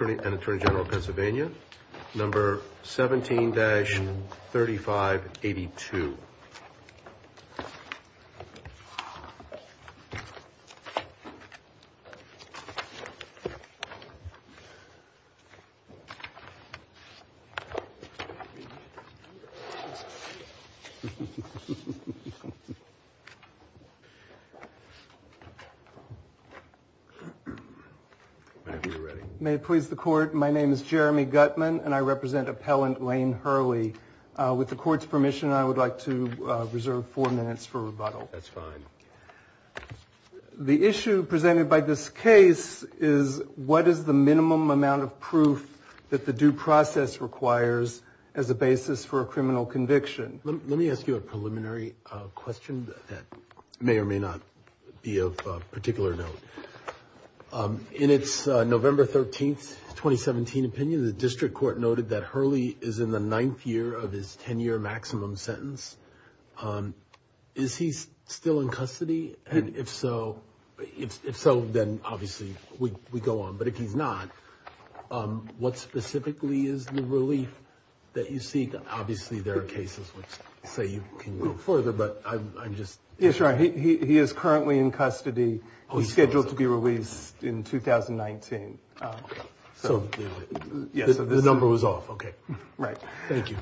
and Attorney General of Pennsylvania, number 17-3582. May it please the Court, my name is Jeremy Gutman and I represent Appellant Lane Hurley. With the Court's permission, I would like to reserve four minutes for rebuttal. That's fine. The issue presented by this case is what is the minimum amount of proof that the due process requires as a basis for a criminal conviction? Let me ask you a preliminary question that may or may not be of particular note. In its November 13, 2017 opinion, the District Court noted that Hurley is in the ninth year of his 10-year maximum sentence. Is he still in custody? And if so, then obviously we go on. But if he's not, what specifically is the relief that you seek? Obviously, there are cases which say you can go further. He is currently in custody. He's scheduled to be released in 2019. So the number was off, okay. Thank you.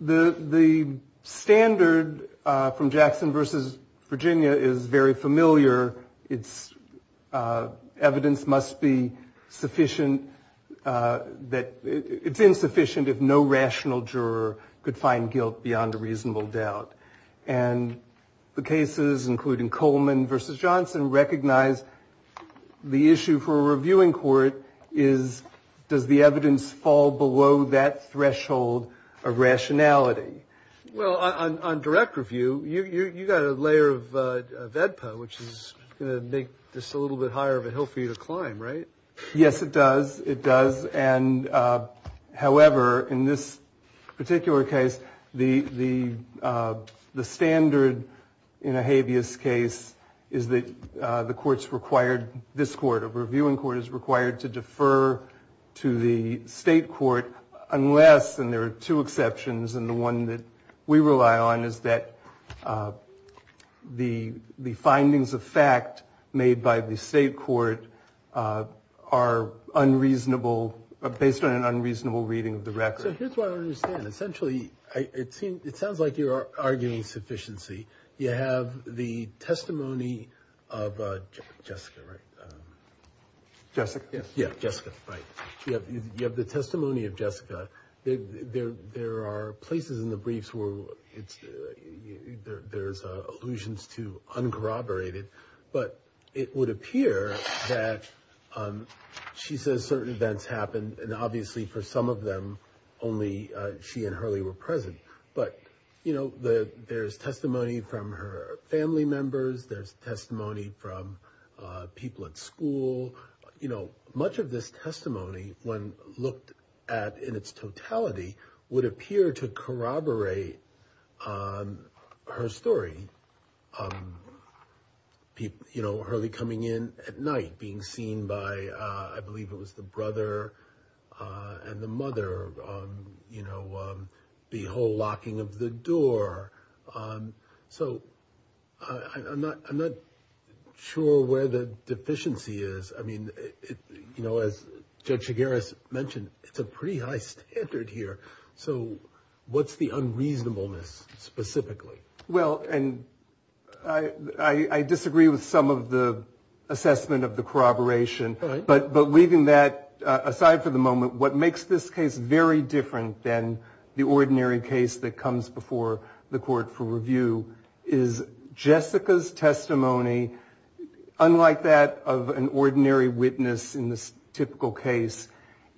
The standard from Jackson v. Virginia is very familiar. It's evidence must be sufficient. It's insufficient if no rational juror could find guilt beyond a reasonable doubt. And the cases, including Coleman v. Johnson, recognize the issue for a reviewing court is does the evidence fall below that threshold of rationality? Well, on direct review, you got a layer of VEDPA, which is going to make this a little bit higher of a hill for you to climb, right? Yes, it does. It does. And however, in this particular case, the standard in a habeas case is that the court's required, this court, a reviewing court is required to defer to the state court unless, and there are two exceptions, and the one that we rely on is that the findings of fact made by the state court, are unreasonable, based on an unreasonable reading of the record. So here's what I understand. Essentially, it sounds like you're arguing sufficiency. You have the testimony of Jessica, right? She says certain events happened, and obviously for some of them, only she and Hurley were present. But, you know, there's testimony from her family members. There's testimony from people at school. You know, much of this testimony, when looked at in its totality, would appear to corroborate her story. You know, Hurley coming in at night, being seen by, I believe it was the brother and the mother, you know, the whole locking of the door. So I'm not sure where the deficiency is. I mean, you know, as Judge Shigaris mentioned, it's a pretty high standard here. So what's the unreasonableness, specifically? Well, and I disagree with some of the assessment of the corroboration. But leaving that aside for the moment, what makes this case very different than the ordinary case that comes before the court for review is Jessica's testimony, unlike that of an ordinary witness in this typical case,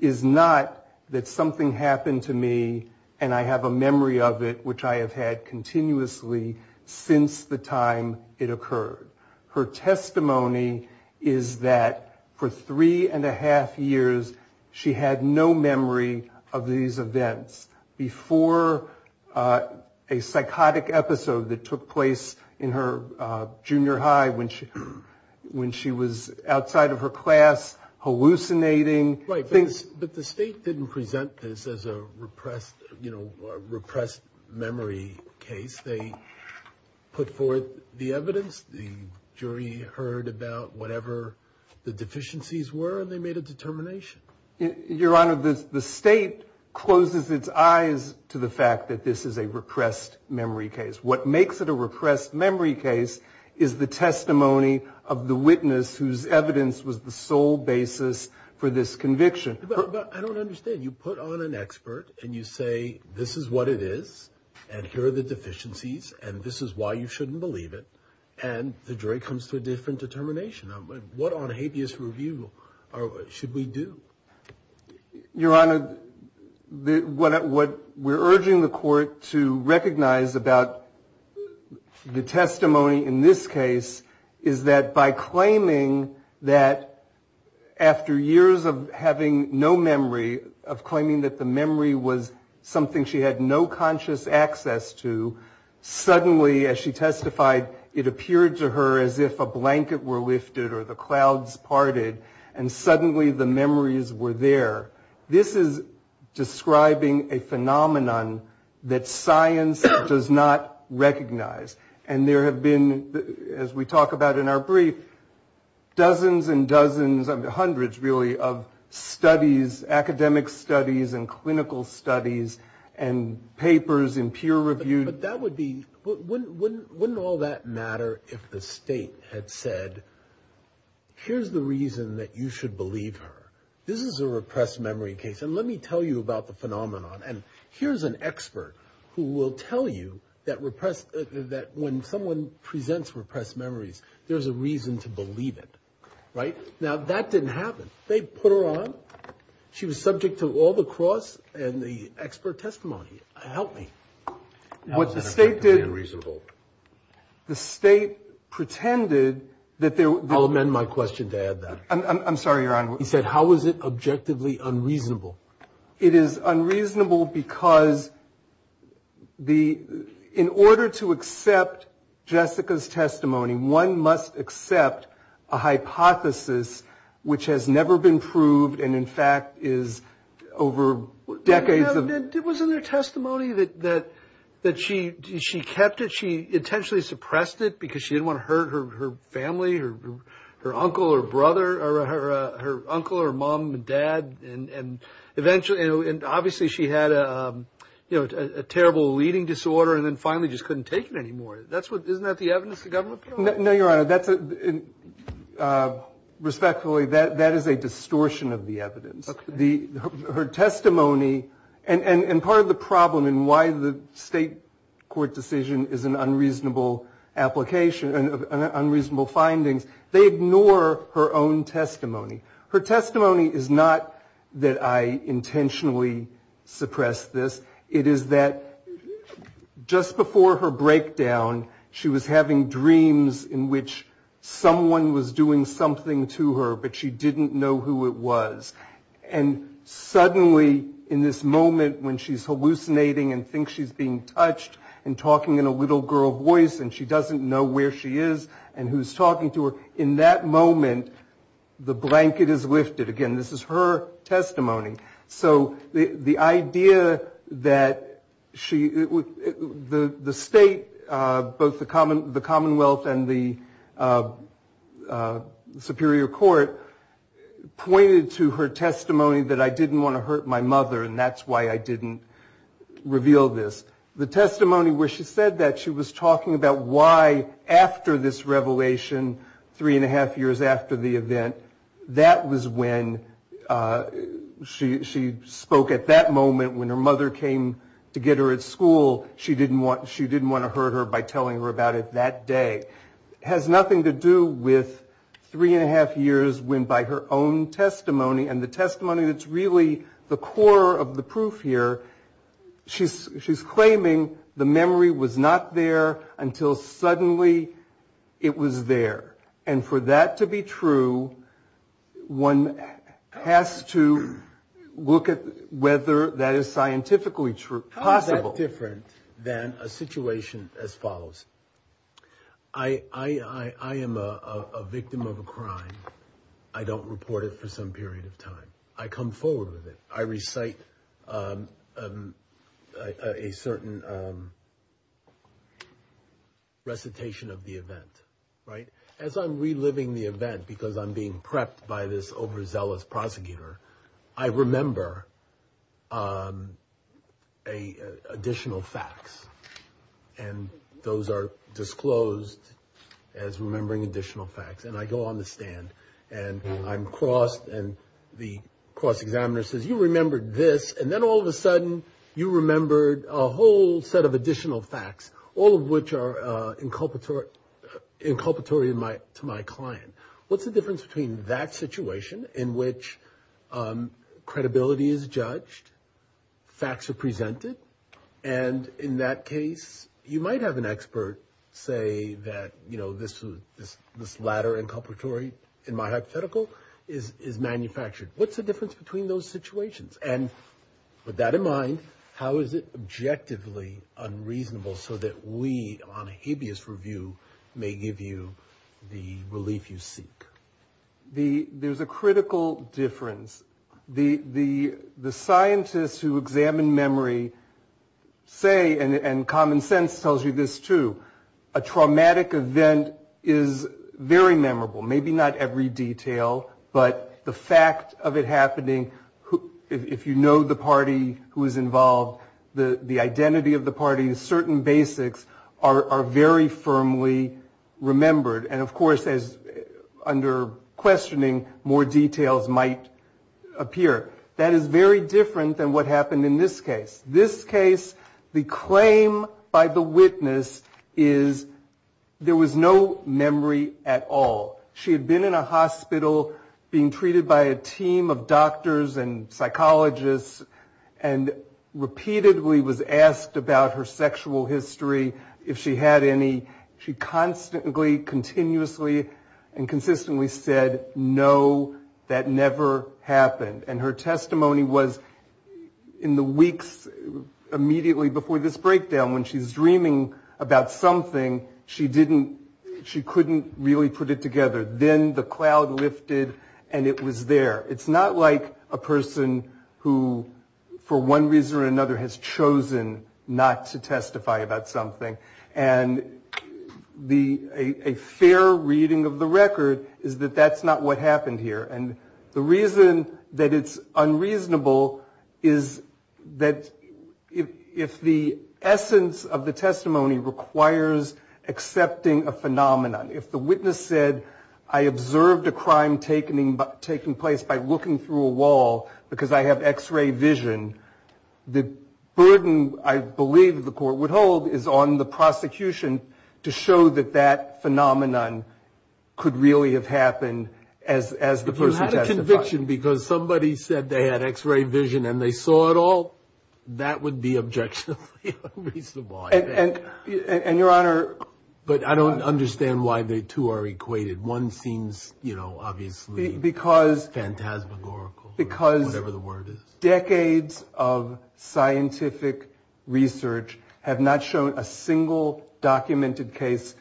is not that something happened to me, and I have a memory of it, which I have had continuously. Since the time it occurred. Her testimony is that for three and a half years, she had no memory of these events. Before a psychotic episode that took place in her junior high, when she was outside of her class, hallucinating, things... So the jury put forth the evidence, the jury heard about whatever the deficiencies were, and they made a determination. Your Honor, the state closes its eyes to the fact that this is a repressed memory case. What makes it a repressed memory case is the testimony of the witness whose evidence was the sole basis for this conviction. But I don't understand. You put on an expert, and you say, this is what it is, and here are the deficiencies, and this is why you shouldn't believe it, and the jury comes to a different determination. What on habeas review should we do? Your Honor, what we're urging the court to recognize about the testimony in this case is that by claiming that after years of having no memory, of claiming that the memory was something she had no conscious access to, suddenly, as she testified, it appeared to her as if a blanket were lifted or the clouds parted, and suddenly the memories were there. This is describing a phenomenon that science does not recognize. And there have been, as we talk about in our brief, dozens and dozens, hundreds, really, of studies, academic studies and clinical studies and papers in peer reviewed... But that would be... Wouldn't all that matter if the state had said, here's the reason that you should believe her. This is a repressed memory case, and let me tell you about the phenomenon. And here's an expert who will tell you that when someone presents repressed memories, there's a reason to believe it. Right? Now, that didn't happen. They put her on. She was subject to all the cross and the expert testimony. Help me. What the state did... Unreasonable. The state pretended that there... I'll amend my question to add that. I'm sorry, Your Honor. He said, how is it objectively unreasonable? It is unreasonable because in order to accept Jessica's testimony, one must accept a hypothesis which has never been proved and in fact is over decades of... The fact that she kept it, she intentionally suppressed it because she didn't want to hurt her family, her uncle, her brother, her uncle, her mom and dad, and eventually... And obviously she had a terrible leading disorder and then finally just couldn't take it anymore. Isn't that the evidence the government put out? No, Your Honor. Respectfully, that is a distortion of the evidence. Her testimony, and part of the problem in why the state court decision is an unreasonable application, unreasonable findings, they ignore her own testimony. Her testimony is not that I intentionally suppressed this. It is that just before her breakdown, she was having dreams in which someone was doing something to her, but she didn't know who it was. And suddenly in this moment when she's hallucinating and thinks she's being touched and talking in a little girl voice and she doesn't know where she is and who's talking to her, in that moment, the blanket is lifted. Again, this is her testimony. So the idea that she... The state, both the Commonwealth and the Superior Court, pointed to her testimony as being unreasonable. The testimony that I didn't want to hurt my mother, and that's why I didn't reveal this. The testimony where she said that, she was talking about why after this revelation, three and a half years after the event, that was when she spoke at that moment, when her mother came to get her at school, she didn't want to hurt her by telling her about it that day. It has nothing to do with three and a half years when by her own testimony, and the testimony that's really the core of the proof here, she's claiming the memory was not there until suddenly it was there. And for that to be true, one has to look at whether that is scientifically possible. I think it's a little different than a situation as follows. I am a victim of a crime. I don't report it for some period of time. I come forward with it. I recite a certain recitation of the event. As I'm reliving the event, because I'm being prepped by this overzealous prosecutor, I remember additional facts. And those are disclosed as remembering additional facts. And I go on the stand, and I'm crossed, and the cross-examiner says, you remembered this, and then all of a sudden you remembered a whole set of additional facts, all of which are inculpatory. And I say to my client, what's the difference between that situation in which credibility is judged, facts are presented, and in that case, you might have an expert say that, you know, this ladder inculpatory in my hypothetical is manufactured. What's the difference between those situations? And with that in mind, how is it objectively unreasonable so that we, on a habeas review, may give you the relief you seek? There's a critical difference. The scientists who examine memory say, and common sense tells you this too, a traumatic event is very memorable. Maybe not every detail, but the fact of it happening, if you know the party who is involved, the identity of the party, certain basics are very firmly remembered. And of course, under questioning, more details might appear. That is very different than what happened in this case. This case, the claim by the witness is there was no memory at all. She had been in a hospital, being treated by a team of doctors and psychologists, and repeatedly was asked about her sexual history, if she had any. She constantly, continuously, and consistently said, no, that never happened. And her testimony was in the weeks immediately before this breakdown, when she's dreaming about something, she couldn't really put it together. Then the cloud lifted, and it was there. It's not like a person who, for one reason or another, has chosen not to testify about something. And a fair reading of the record is that that's not what happened here. And the reason that it's unreasonable is that if the essence of the testimony requires accepting a phenomenon, if the witness said, I observed a crime taking place by looking through a wall, because I have x-ray vision, the burden I believe the court would hold is on the person. And if you had a conviction, because somebody said they had x-ray vision and they saw it all, that would be objectionably unreasonable, I think. But I don't understand why the two are equated. One seems, you know, obviously, phantasmagorical, or whatever the word is. But decades of scientific research have not shown a single documented case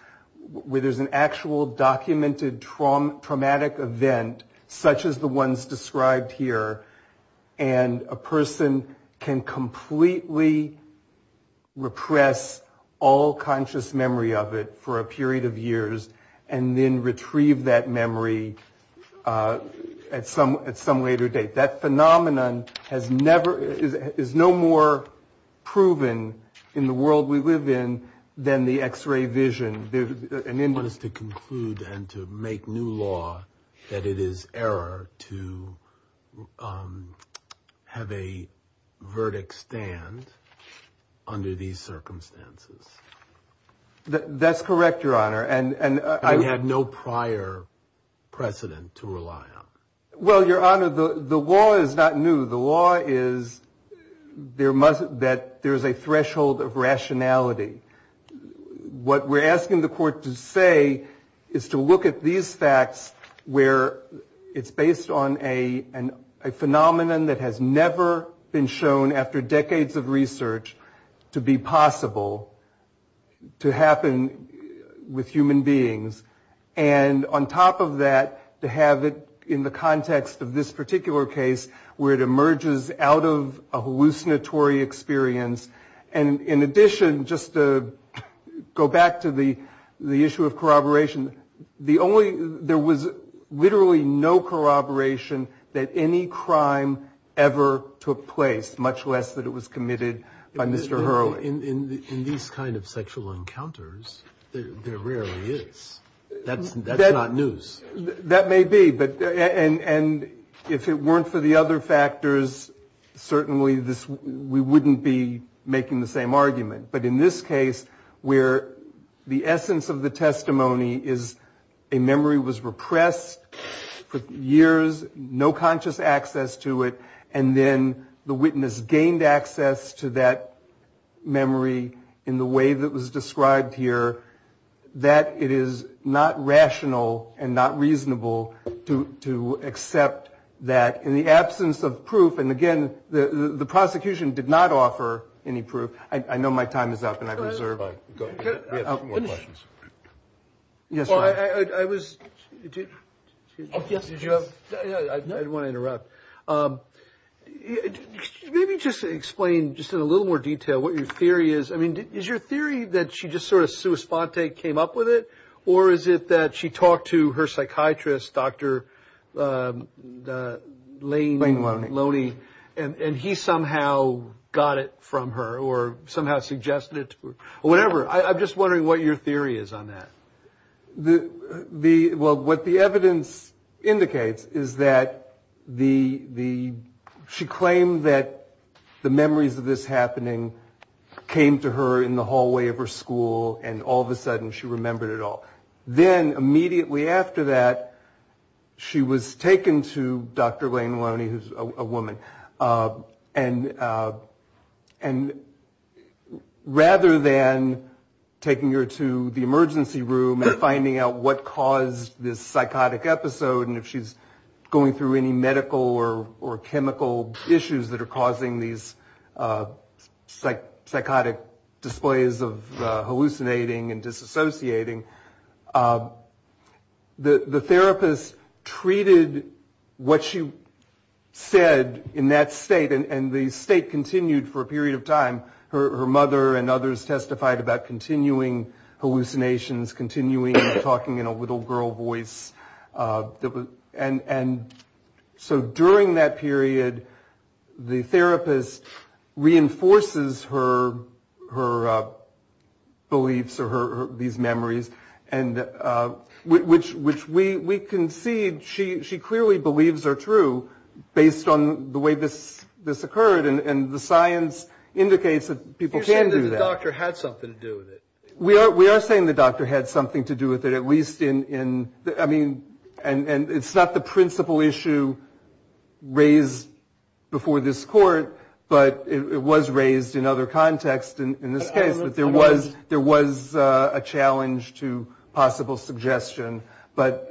where there's an actual documented traumatic event, such as the ones described here, and a person can completely repress all conscious memory of it for a period of years and then retrieve that memory at some later date. And that has never, is no more proven in the world we live in than the x-ray vision. One is to conclude and to make new law that it is error to have a verdict stand under these circumstances. That's correct, Your Honor. And you had no prior precedent to rely on. Well, Your Honor, the law is not new. The law is that there's a threshold of rationality. What we're asking the court to say is to look at these facts where it's based on a phenomenon that has never been shown after decades of research to be possible, to happen with human beings. And on top of that, to have it in the context of this particular case where it emerges out of a hallucinatory experience. And in addition, just to go back to the issue of corroboration, the only, there was literally no corroboration that any crime ever took place, much less that it was committed by Mr. Hurley. Well, in these kind of sexual encounters, there rarely is. That's not news. That may be. And if it weren't for the other factors, certainly we wouldn't be making the same argument. But in this case, where the essence of the testimony is a memory was repressed for years, no conscious access to it, and then the witness gained access to that memory. In the way that was described here, that it is not rational and not reasonable to accept that in the absence of proof. And again, the prosecution did not offer any proof. I know my time is up and I've reserved. Yes, I was. Yes. I want to interrupt. Maybe just explain just in a little more detail what you're thinking about. What your theory is. I mean, is your theory that she just sort of Suis Ponte came up with it? Or is it that she talked to her psychiatrist, Dr. Lane Loney, and he somehow got it from her or somehow suggested it? Whatever. I'm just wondering what your theory is on that. The the well, what the evidence indicates is that the the she claimed that the memories of this happening came to her in the hallway of her school. And all of a sudden she remembered it all. Then immediately after that, she was taken to Dr. Lane Loney, who's a woman. And and rather than taking her to the emergency room and finding out that she had a memory loss, she was taken to the hospital. And so instead of finding out what caused this psychotic episode and if she's going through any medical or chemical issues that are causing these psychotic displays of hallucinating and disassociating, the therapist treated what she said in that state. And the state continued for a period of time. Her mother and others testified about continuing hallucinations, continuing talking in a little girl voice. And so during that period, the therapist reinforces her her beliefs or her these memories. And which which we concede she she clearly believes are true based on the way this this occurred. And the science indicates that people can do that. And I think that that had something to do with it, at least in I mean, and it's not the principal issue raised before this court, but it was raised in other context in this case. But there was there was a challenge to possible suggestion. But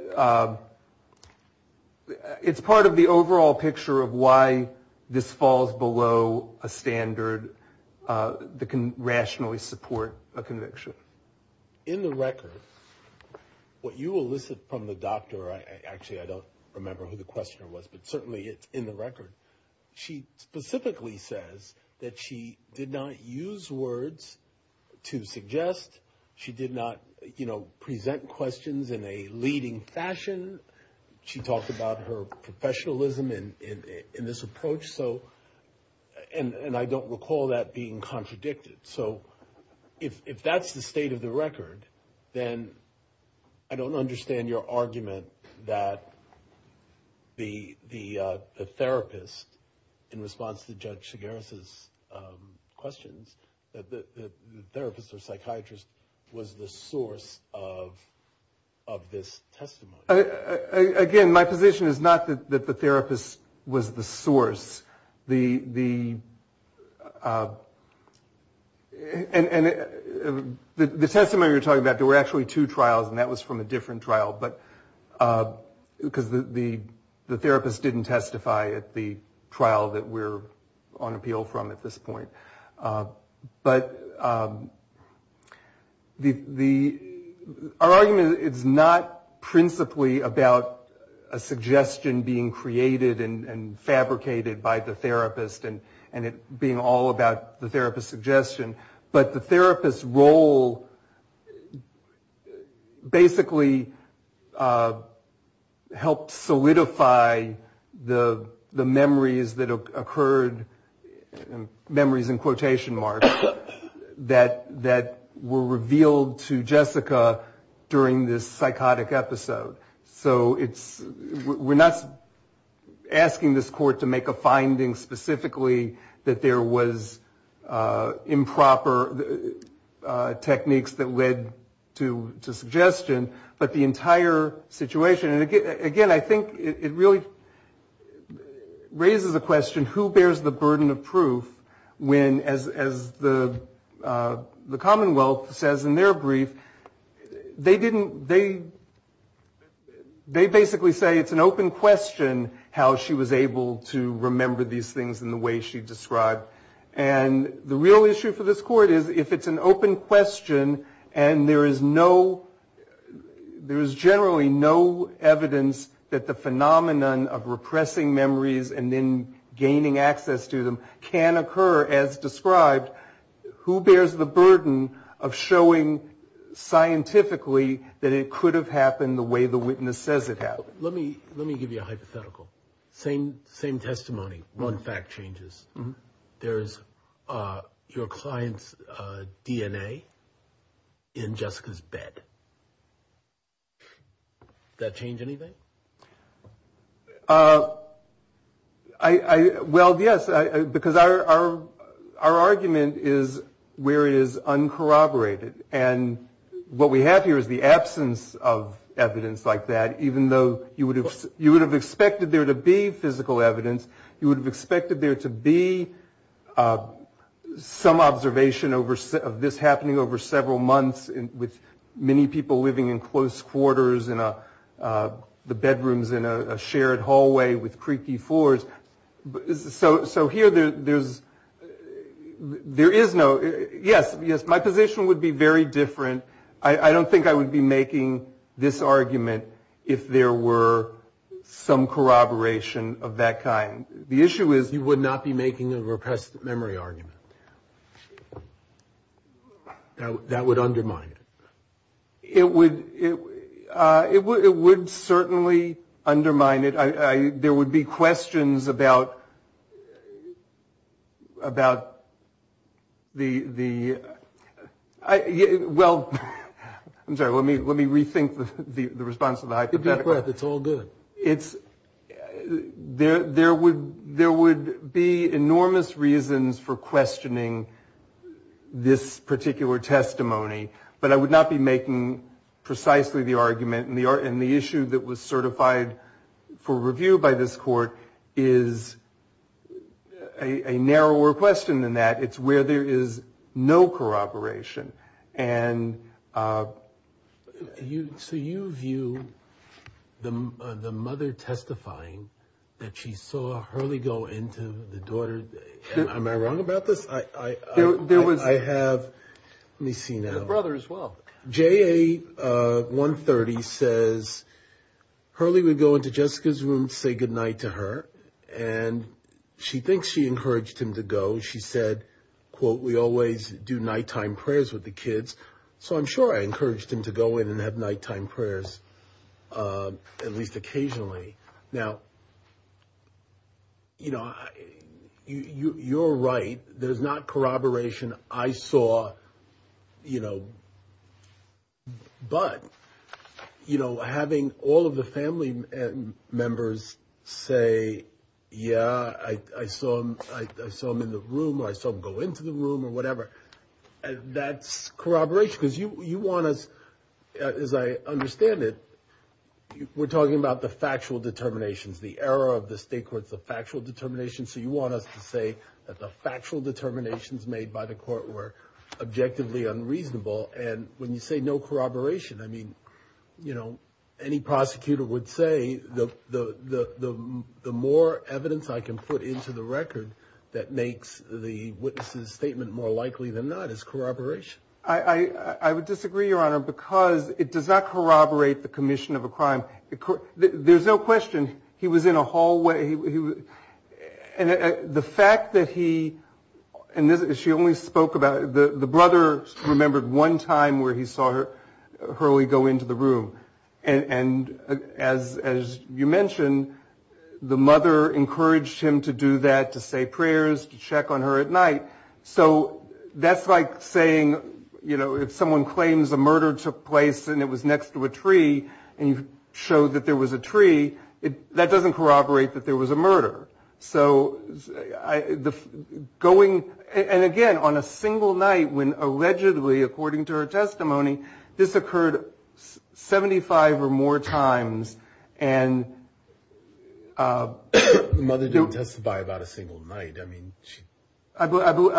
it's part of the overall picture of why this falls below a standard that can rationally support a conviction. But in the record, what you elicit from the doctor, I actually I don't remember who the questioner was, but certainly it's in the record. She specifically says that she did not use words to suggest she did not, you know, present questions in a leading fashion. She talked about her professionalism in this approach. So and I don't recall that being contradicted. So if that's the state of the record, then I don't understand your argument that the the therapist, in response to Judge Segarra's questions, that the therapist or psychiatrist was the source of of this testimony. Again, my position is not that the therapist was the source. The and the testimony you're talking about, there were actually two trials. And that was from a different trial. But because the therapist didn't testify at the trial that we're on appeal from at this point. But the our argument is not principally that the therapist was the source of the testimony. It's not principally about a suggestion being created and fabricated by the therapist and it being all about the therapist's suggestion. But the therapist's role basically helped solidify the memories that occurred, memories in quotation marks, that were revealed to Jessica during this trial. So it's, we're not asking this court to make a finding specifically that there was improper techniques that led to suggestion. But the entire situation, and again, I think it really raises a question, who bears the burden of proof when, as the Commonwealth says in their brief, they didn't, they didn't they basically say it's an open question how she was able to remember these things in the way she described. And the real issue for this court is, if it's an open question and there is no, there is generally no evidence that the phenomenon of repressing memories and then gaining access to them can occur as described, who bears the burden of showing scientifically that it could have happened the way the witness says it happened. Let me, let me give you a hypothetical. Same, same testimony, one fact changes. There's your client's DNA in Jessica's bed. Does that change anything? Well, yes, because our argument is where it is uncorroborated. And what we have here is the absence of evidence like that, even though you would have expected there to be physical evidence, you would have expected there to be some observation of this happening over several months with many people living in close quarters, with bedrooms in a shared hallway with creaky floors. So here there's, there is no, yes, yes, my position would be very different. I don't think I would be making this argument if there were some corroboration of that kind. The issue is you would not be making a repressed memory argument. That would undermine it. It would, it would certainly undermine it. There would be questions about, about the, well, I'm sorry, let me rethink the response to the hypothetical. It's all good. There would be enormous reasons for questioning this particular testimony. But I would not be making a repressed memory argument. I would not be making precisely the argument, and the issue that was certified for review by this court is a narrower question than that. It's where there is no corroboration. And you, so you view the mother testifying that she saw Hurley go into the daughter's, am I wrong about this? I have, let me see now. I have a brother as well. J.A. 130 says Hurley would go into Jessica's room, say goodnight to her, and she thinks she encouraged him to go. She said, quote, we always do nighttime prayers with the kids. So I'm sure I encouraged him to go in and have nighttime prayers, at least occasionally. Now, you know, you, you're right. There's not corroboration. I saw, you know, Jessica's room, and I'm sure I encouraged her to go in and have nighttime prayers. But, you know, having all of the family members say, yeah, I saw him, I saw him in the room, or I saw him go into the room, or whatever, that's corroboration. Because you want us, as I understand it, we're talking about the factual determinations, the error of the state courts, the factual determinations. So you want us to say that the factual determinations made by the court were objectively unreasonable. And when you say no corroboration, I mean, you know, any prosecutor would say, the more evidence I can put into the record that makes the witness's statement more likely than not is corroboration. I, I would disagree, Your Honor, because it does not corroborate the commission of a crime. There's no question he was in a hallway. And the fact that he, and she only spoke about it, the brother remembered one time that he was in a hallway, and there was no evidence that he was actually in a hallway. And there was no evidence at the time where he saw Hurley go into the room. And as, as you mentioned, the mother encouraged him to do that, to say prayers, to check on her at night. So that's like saying, you know, if someone claims a murder took place and it was next to a tree, and you showed that there was a tree, that doesn't corroborate that there was a murder. So, going, and again, on a single night, when allegedly, according to her testimony, this occurred 75 or more times, and... The mother didn't testify about a single night. I mean, she... I believe,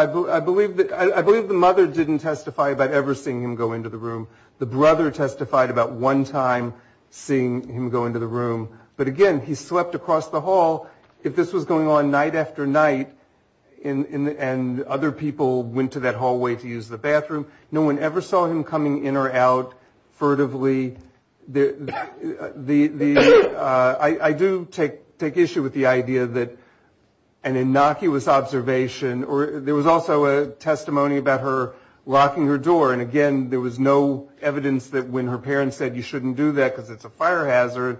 I believe the mother didn't testify about ever seeing him go into the room. The brother testified about one time seeing him go into the room. But again, he slept across the hall. If that's true, that's not corroboration. If this was going on night after night, and other people went to that hallway to use the bathroom, no one ever saw him coming in or out furtively. I do take issue with the idea that an innocuous observation, or there was also a testimony about her locking her door, and again, there was no evidence that when her parents said, you shouldn't do that, because it's a fire hazard,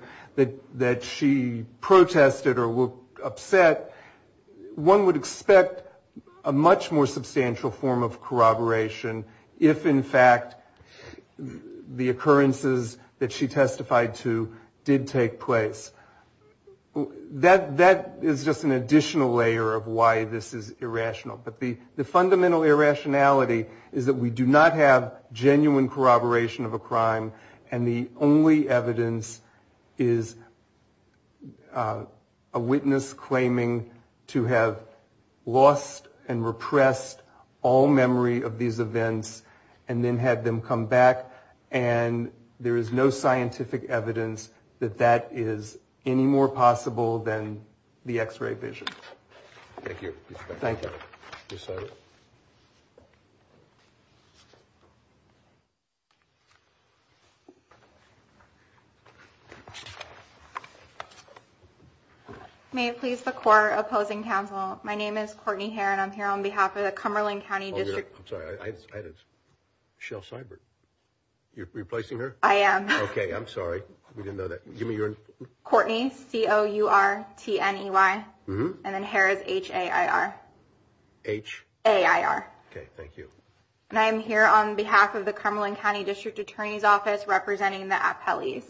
that she protested or appealed. So, if you look at the evidence that's set, one would expect a much more substantial form of corroboration, if, in fact, the occurrences that she testified to did take place. That is just an additional layer of why this is irrational. But the fundamental irrationality is that we do not have genuine corroboration of a crime, and the only evidence is a witness claiming that there was a murder. And the only evidence is a witness claiming to have lost and repressed all memory of these events, and then had them come back, and there is no scientific evidence that that is any more possible than the X-ray vision. Thank you. Thank you. May it please the court opposing counsel, my name is Courtney Hare, and I'm here on behalf of the Cumberland County District. I'm sorry, I had a shell cyber. You're replacing her? I am. Okay, I'm sorry, we didn't know that. Courtney C-O-U-R-T-N-E-Y, and then Hare is H-A-I-R. H? H-A-I-R. Okay, thank you. And I am here on behalf of the Cumberland County District Attorney's Office, representing the appellees.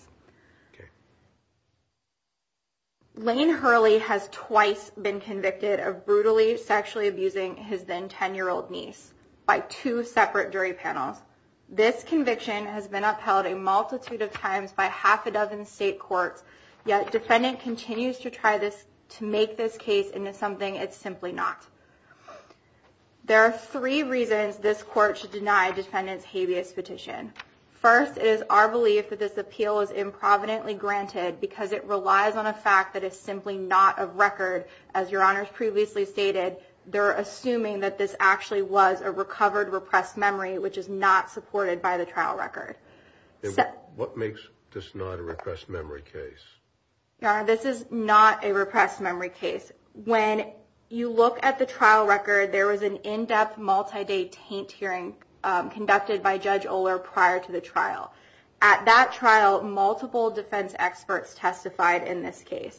Lane Hurley has twice been convicted of brutally, sexually abusing his then 10-year-old niece by two separate jury panels. This conviction has been upheld a multitude of times by half a dozen state courts, yet defendant continues to try to make this case into something it's simply not. There are three reasons this court should deny defendant's habeas petition. First, it is our belief that this appeal is improvidently granted, because it relies on a fact that is simply not of record. As your honors previously stated, they're assuming that this actually was a recovered, repressed memory, which is not true. It's not supported by the trial record. What makes this not a repressed memory case? Your honor, this is not a repressed memory case. When you look at the trial record, there was an in-depth, multi-day taint hearing conducted by Judge Oler prior to the trial. At that trial, multiple defense experts testified in this case.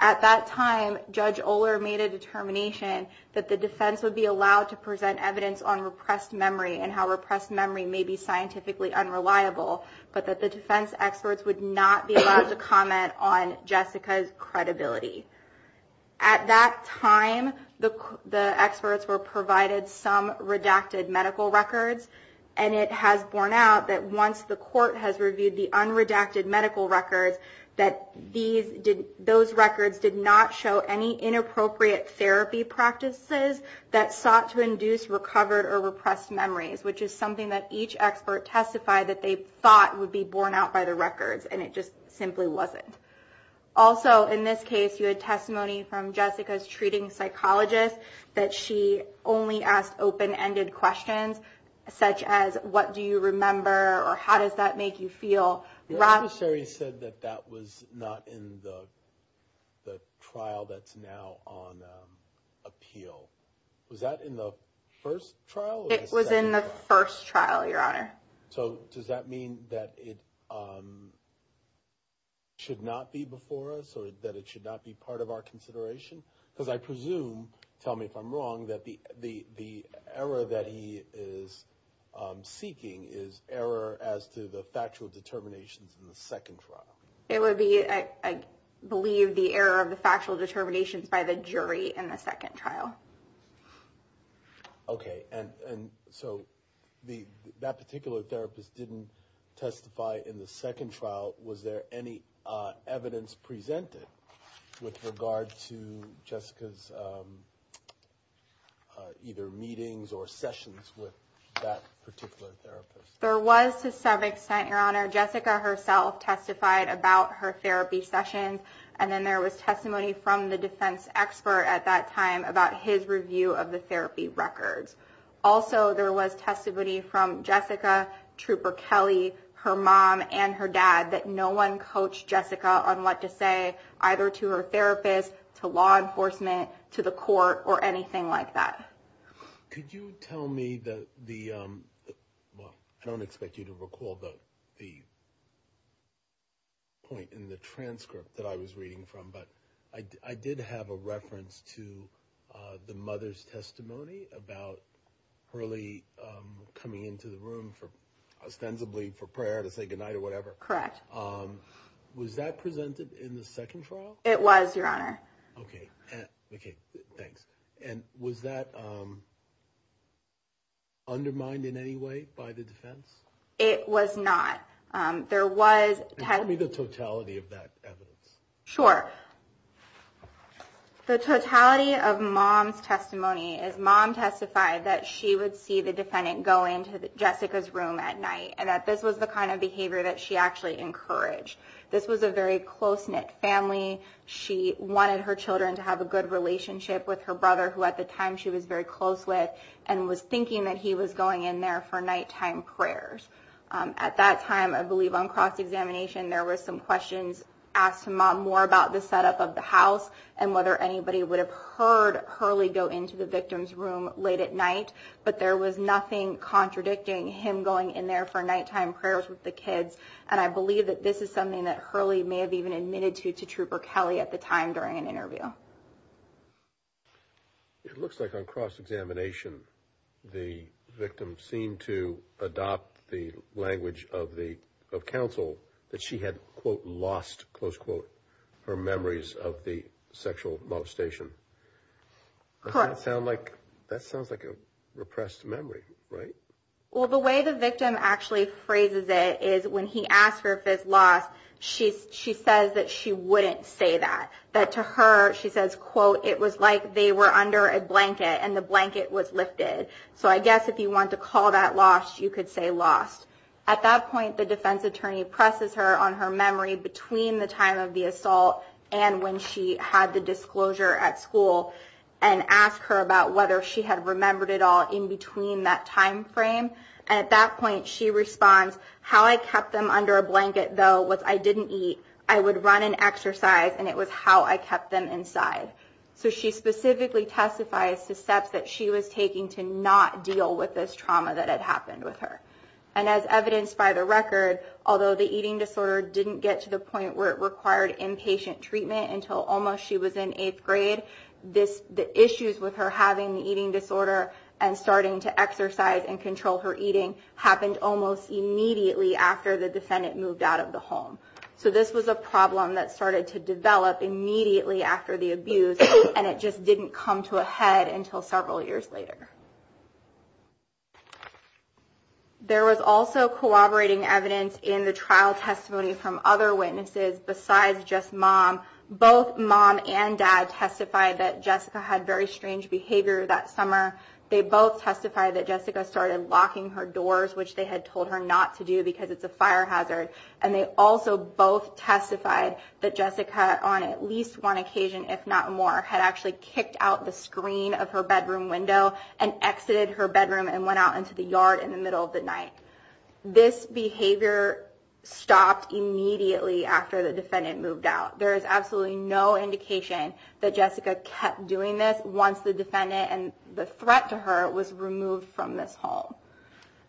At that time, Judge Oler made a determination that the defense would be allowed to present evidence on repressed memory, and how repressed memory can be used as evidence. That repressed memory may be scientifically unreliable, but that the defense experts would not be allowed to comment on Jessica's credibility. At that time, the experts were provided some redacted medical records, and it has borne out that once the court has reviewed the unredacted medical records, that those records did not show any inappropriate therapy practices that sought to induce recovered or repressed memories. Which is something that each expert testified that they thought would be borne out by the records, and it just simply wasn't. Also, in this case, you had testimony from Jessica's treating psychologist, that she only asked open-ended questions, such as, what do you remember, or how does that make you feel? The attorney said that that was not in the trial that's now on appeal. Was that in the first trial? It was in the first trial, Your Honor. So does that mean that it should not be before us, or that it should not be part of our consideration? Because I presume, tell me if I'm wrong, that the error that he is seeking is error as to the factual determinations in the second trial. It would be, I believe, the error of the factual determinations by the jury in the second trial. Okay, and so that particular therapist didn't testify in the second trial. Was there any evidence presented with regard to Jessica's either meetings or sessions with that particular therapist? There was, to some extent, Your Honor. Jessica herself testified about her therapy sessions, and then there was testimony from the defense expert at that time about his testimony. And then there was testimony from his review of the therapy records. Also, there was testimony from Jessica, Trooper Kelly, her mom, and her dad, that no one coached Jessica on what to say, either to her therapist, to law enforcement, to the court, or anything like that. Could you tell me the, well, I don't expect you to recall the point in the transcript that I was reading from, but I did have a reference to the, the mother's testimony about Hurley coming into the room for, ostensibly for prayer to say goodnight or whatever. Correct. Was that presented in the second trial? It was, Your Honor. Okay, thanks. And was that undermined in any way by the defense? It was not. There was... Can you tell me the totality of that evidence? Sure. The totality of mom's testimony is mom testified that she would see the defendant go into Jessica's room at night, and that this was the kind of behavior that she actually encouraged. This was a very close-knit family. She wanted her children to have a good relationship with her brother, who, at the time, she was very close with, and was thinking that he was going in there for nighttime prayers. At that time, I believe on cross-examination, there were some questions asked to mom more about the setup of the house and whether anybody would have heard Hurley go into the victim's room late at night, but there was nothing contradicting him going in there for nighttime prayers with the kids, and I believe that this is something that Hurley may have even admitted to Trooper Kelly at the time during an interview. It looks like on cross-examination, the victim seemed to adopt the intention of going into the victim's room, and it was in the language of counsel that she had, quote, lost, close quote, her memories of the sexual molestation. That sounds like a repressed memory, right? Well, the way the victim actually phrases it is when he asks her if it's lost, she says that she wouldn't say that. That to her, she says, quote, it was like they were under a blanket and the blanket was lifted. So I guess if you want to call that lost, you could say lost. At that point, the defense attorney presses her on her memory between the time of the assault and when she had the disclosure at school and asked her about whether she had remembered it all in between that time frame, and at that point, she responds, how I kept them under a blanket, though, was I didn't eat. I would run and exercise, and it was how I kept them inside. So she specifically testifies to steps that she was taking to not deal with this trauma that had happened with her. And as evidenced by the record, although the eating disorder didn't get to the point where it required inpatient treatment until almost she was in eighth grade, the issues with her having the eating disorder and starting to exercise and control her eating happened almost immediately after the defendant moved out of the home. So this was a problem that started to develop immediately after the abuse, and it just didn't come to a head until several years later. There was also corroborating evidence in the trial testimony from other witnesses besides just mom. Both mom and dad testified that Jessica had very strange behavior that summer. They both testified that Jessica started locking her doors, which they had told her not to do because it's a fire hazard, and they also both testified that Jessica, on at least one occasion, if not more, had actually kicked out the screen of her bedroom window and exited her bedroom and went out into the yard in the middle of the night. This behavior stopped immediately after the defendant moved out. There is absolutely no indication that Jessica kept doing this once the defendant and the threat to her was removed from this home.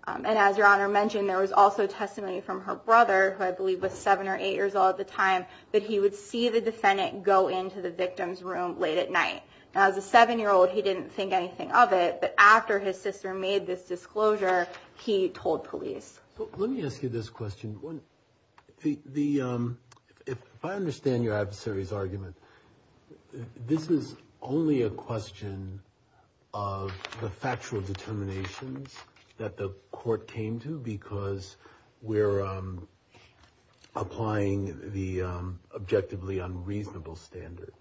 And as Your Honor mentioned, there was also testimony from her brother, who I believe was seven or eight years old at the time, that he would see the defendant go into the victim's room late at night. Now, as a seven-year-old, he didn't think anything of it, but after his sister made this disclosure, he told police. Let me ask you this question. If I understand your adversary's argument, this is only a question of the factual determinations that the court came to, because we're applying the facts to the facts. This is an objectively unreasonable standard,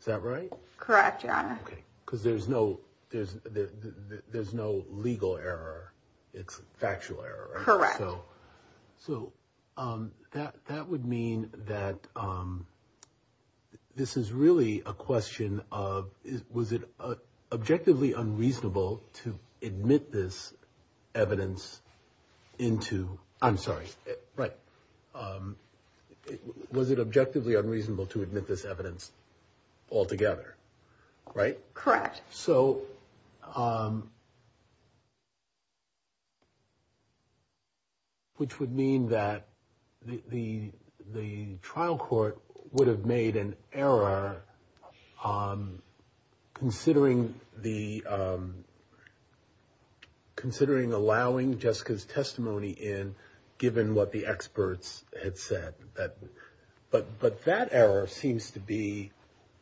is that right? Correct, Your Honor. Because there's no legal error, it's factual error. Correct. So that would mean that this is really a question of, was it objectively unreasonable to admit this evidence into... I'm sorry, right. Was it objectively unreasonable to admit this evidence altogether, right? Correct. Which would mean that the trial court would have made an error considering allowing Jessica's testimony in, given what the experts had said. But that error seems to be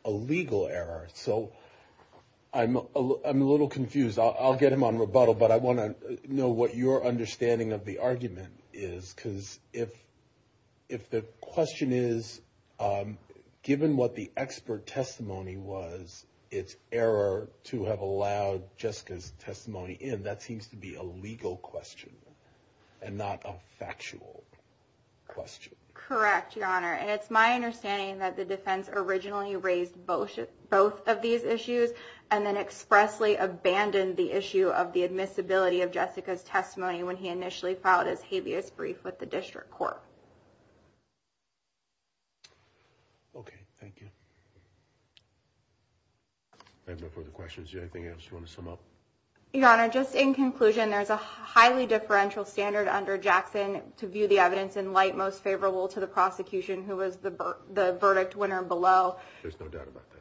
a legal error, so I'm a little confused. I'll get him on rebuttal, but I want to know what your understanding of the argument is, because if the question is, given what the expert testimony was, it's error to have allowed Jessica's testimony in, that seems to be a legal question and not a factual one. Correct, Your Honor. And it's my understanding that the defense originally raised both of these issues and then expressly abandoned the issue of the admissibility of Jessica's testimony when he initially filed his habeas brief with the district court. Okay, thank you. I have no further questions. Do you have anything else you want to sum up? Your Honor, just in conclusion, there's a highly differential standard under Jackson to view the evidence in light most favorable to the prosecution, who was the verdict winner below. There's no doubt about that.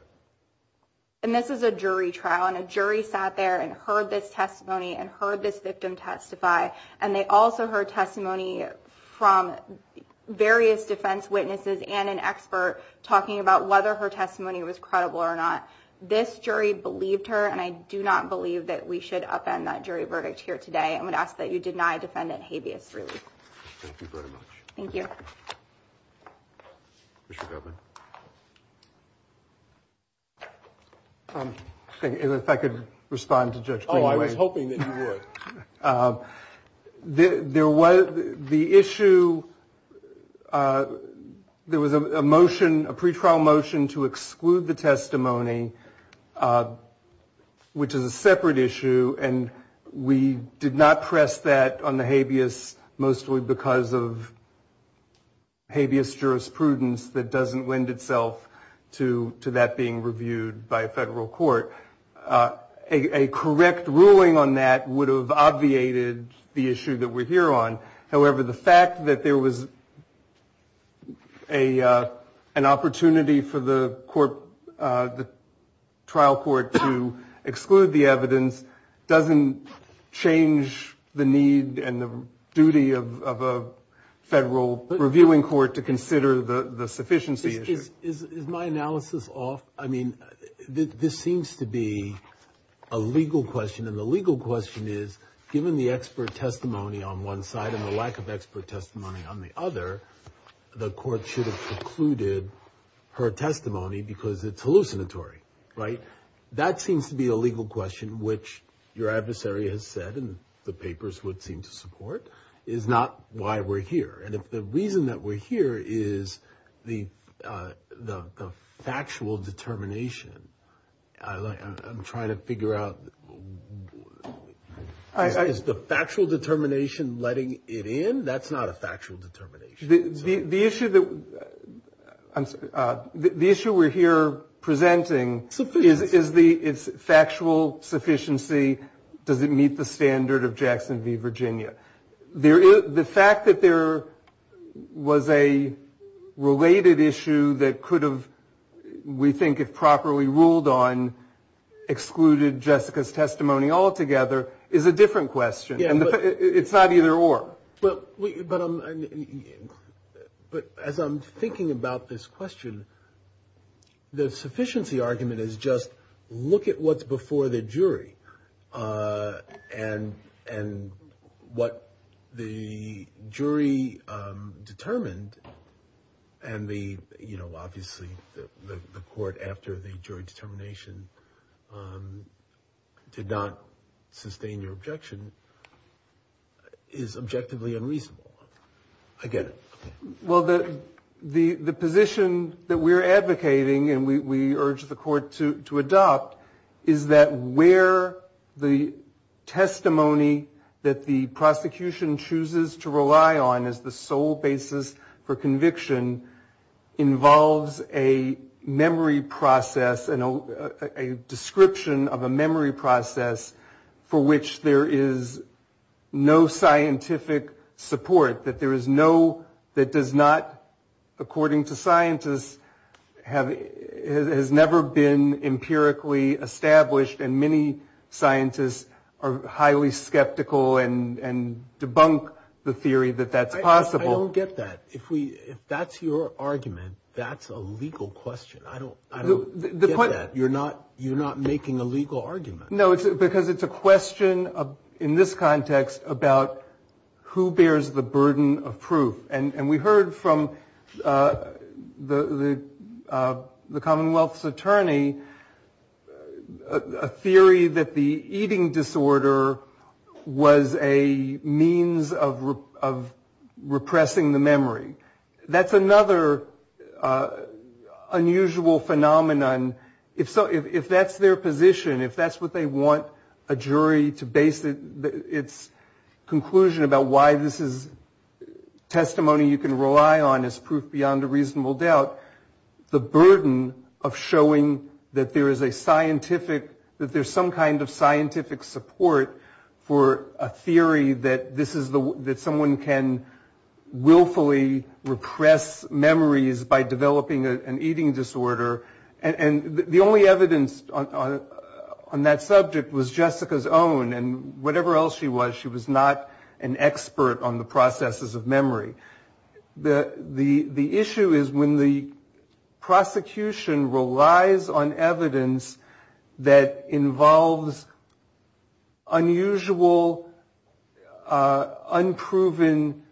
And this is a jury trial, and a jury sat there and heard this testimony and heard this victim testify, and they also heard testimony from various defense witnesses and an expert talking about whether her testimony was credible or not. This jury believed her, and I do not believe that we should upend that jury verdict here today. I'm going to ask that you deny Defendant Habeas Ruby. Thank you very much. Thank you. If I could respond to Judge Greenaway. Oh, I was hoping that you would. The issue, there was a motion, a pretrial motion to exclude the testimony, which is a separate issue, and we did not press that on the habeas mostly because of habeas jurisprudence that doesn't lend itself to that being reviewed by a federal court. A correct ruling on that would have obviated the issue that we're here on. However, the fact that there was an opportunity for the trial court to exclude the evidence doesn't change the need and the duty of a federal reviewing court to consider the sufficiency issue. Is my analysis off? I mean, this seems to be a legal question, and the legal question is, given the expert testimony on one side and the lack of expert testimony on the other, the court should have precluded her testimony because it's hallucinatory, right? That seems to be a legal question, which your adversary has said, and the papers would seem to support, is not why we're here. And if the reason that we're here is the factual determination, I'm trying to figure out, is the factual determination letting it in? That's not a factual determination. The issue we're here presenting is factual sufficiency, does it meet the standard of Jackson v. Virginia? The fact that there was a related issue that could have, we think, if properly ruled on, excluded Jessica's testimony altogether is a different question. It's not either or. But as I'm thinking about this question, the sufficiency argument is just, look at what's before the jury and what the jury determined, and obviously the court, after the jury determination, did not sustain your objection, is objectively unreasonable. I get it. Well, the position that we're advocating and we urge the court to adopt is that where the testimony that the prosecution chooses to rely on as the sole basis for conviction involves a memory process and a description of a memory process for which there is no scientific support, that there is no, that does not, according to scientists, has never been empirically established and many scientists are highly skeptical and debunk the theory that that's possible. I don't get that. If that's your argument, that's a legal question. I don't get that. You're not making a legal argument. No, because it's a question in this context about who bears the burden of proof. And we heard from the Commonwealth's attorney a theory that the eating disorder was a means of repressing the memory. That's another unusual phenomenon. If that's their position, if that's what they want a jury to base its conclusion about, why this is testimony you can rely on as proof beyond a reasonable doubt, the burden of showing that there is a scientific, that there's some kind of scientific support for a theory that someone can willfully repress memories by developing an eating disorder. And the only evidence on that subject was Jessica's own and whatever else she was, she was not an expert on the processes of memory. The issue is when the prosecution relies on evidence that involves unusual, unproven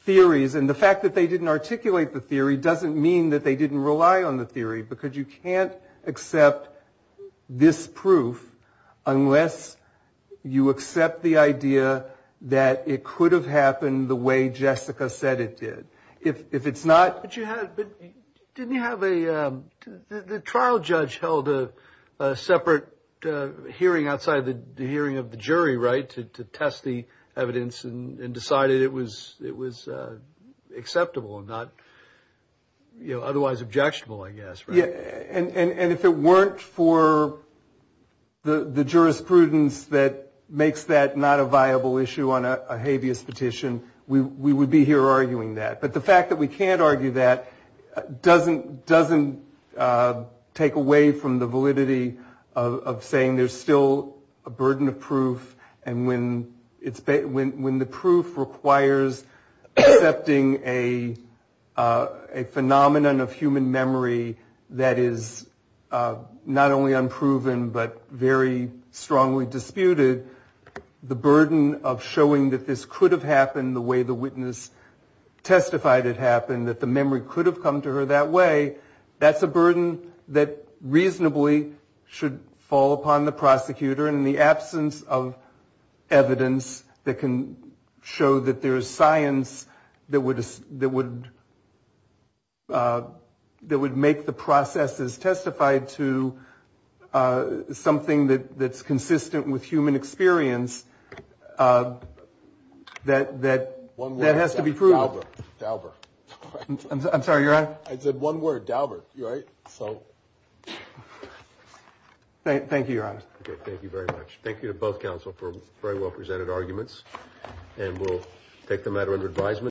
theories. And the fact that they didn't articulate the theory doesn't mean that they didn't rely on the theory. Because you can't accept this proof unless you accept the idea that it could have happened the way Jessica said it did. If it's not... But didn't you have a... The trial judge held a separate hearing outside the hearing of the jury, right? To test the evidence and decided it was acceptable and not otherwise objectionable, I guess, right? And if it weren't for the jurisprudence that makes that not a viable issue on a habeas petition, we would be here arguing that. But the fact that we can't argue that doesn't take away from the validity of saying there's still a burden of proof and when the proof requires accepting a phenomenon of human memory that is not only unproven but very strongly disputed, the burden of showing that this could have happened the way the witness testified it happened, that the memory could have come to her that way, that's a burden that reasonably should fall upon the prosecutor. And in the absence of evidence that can show that there's science that would make the processes testified to something that's consistent with human experience that has to be proven. One word, Dalbert. I'm sorry, you're on? I said one word, Dalbert. Thank you, Your Honor. Thank you very much. Thank you to both counsel for very well presented arguments and we'll take the matter under advisement.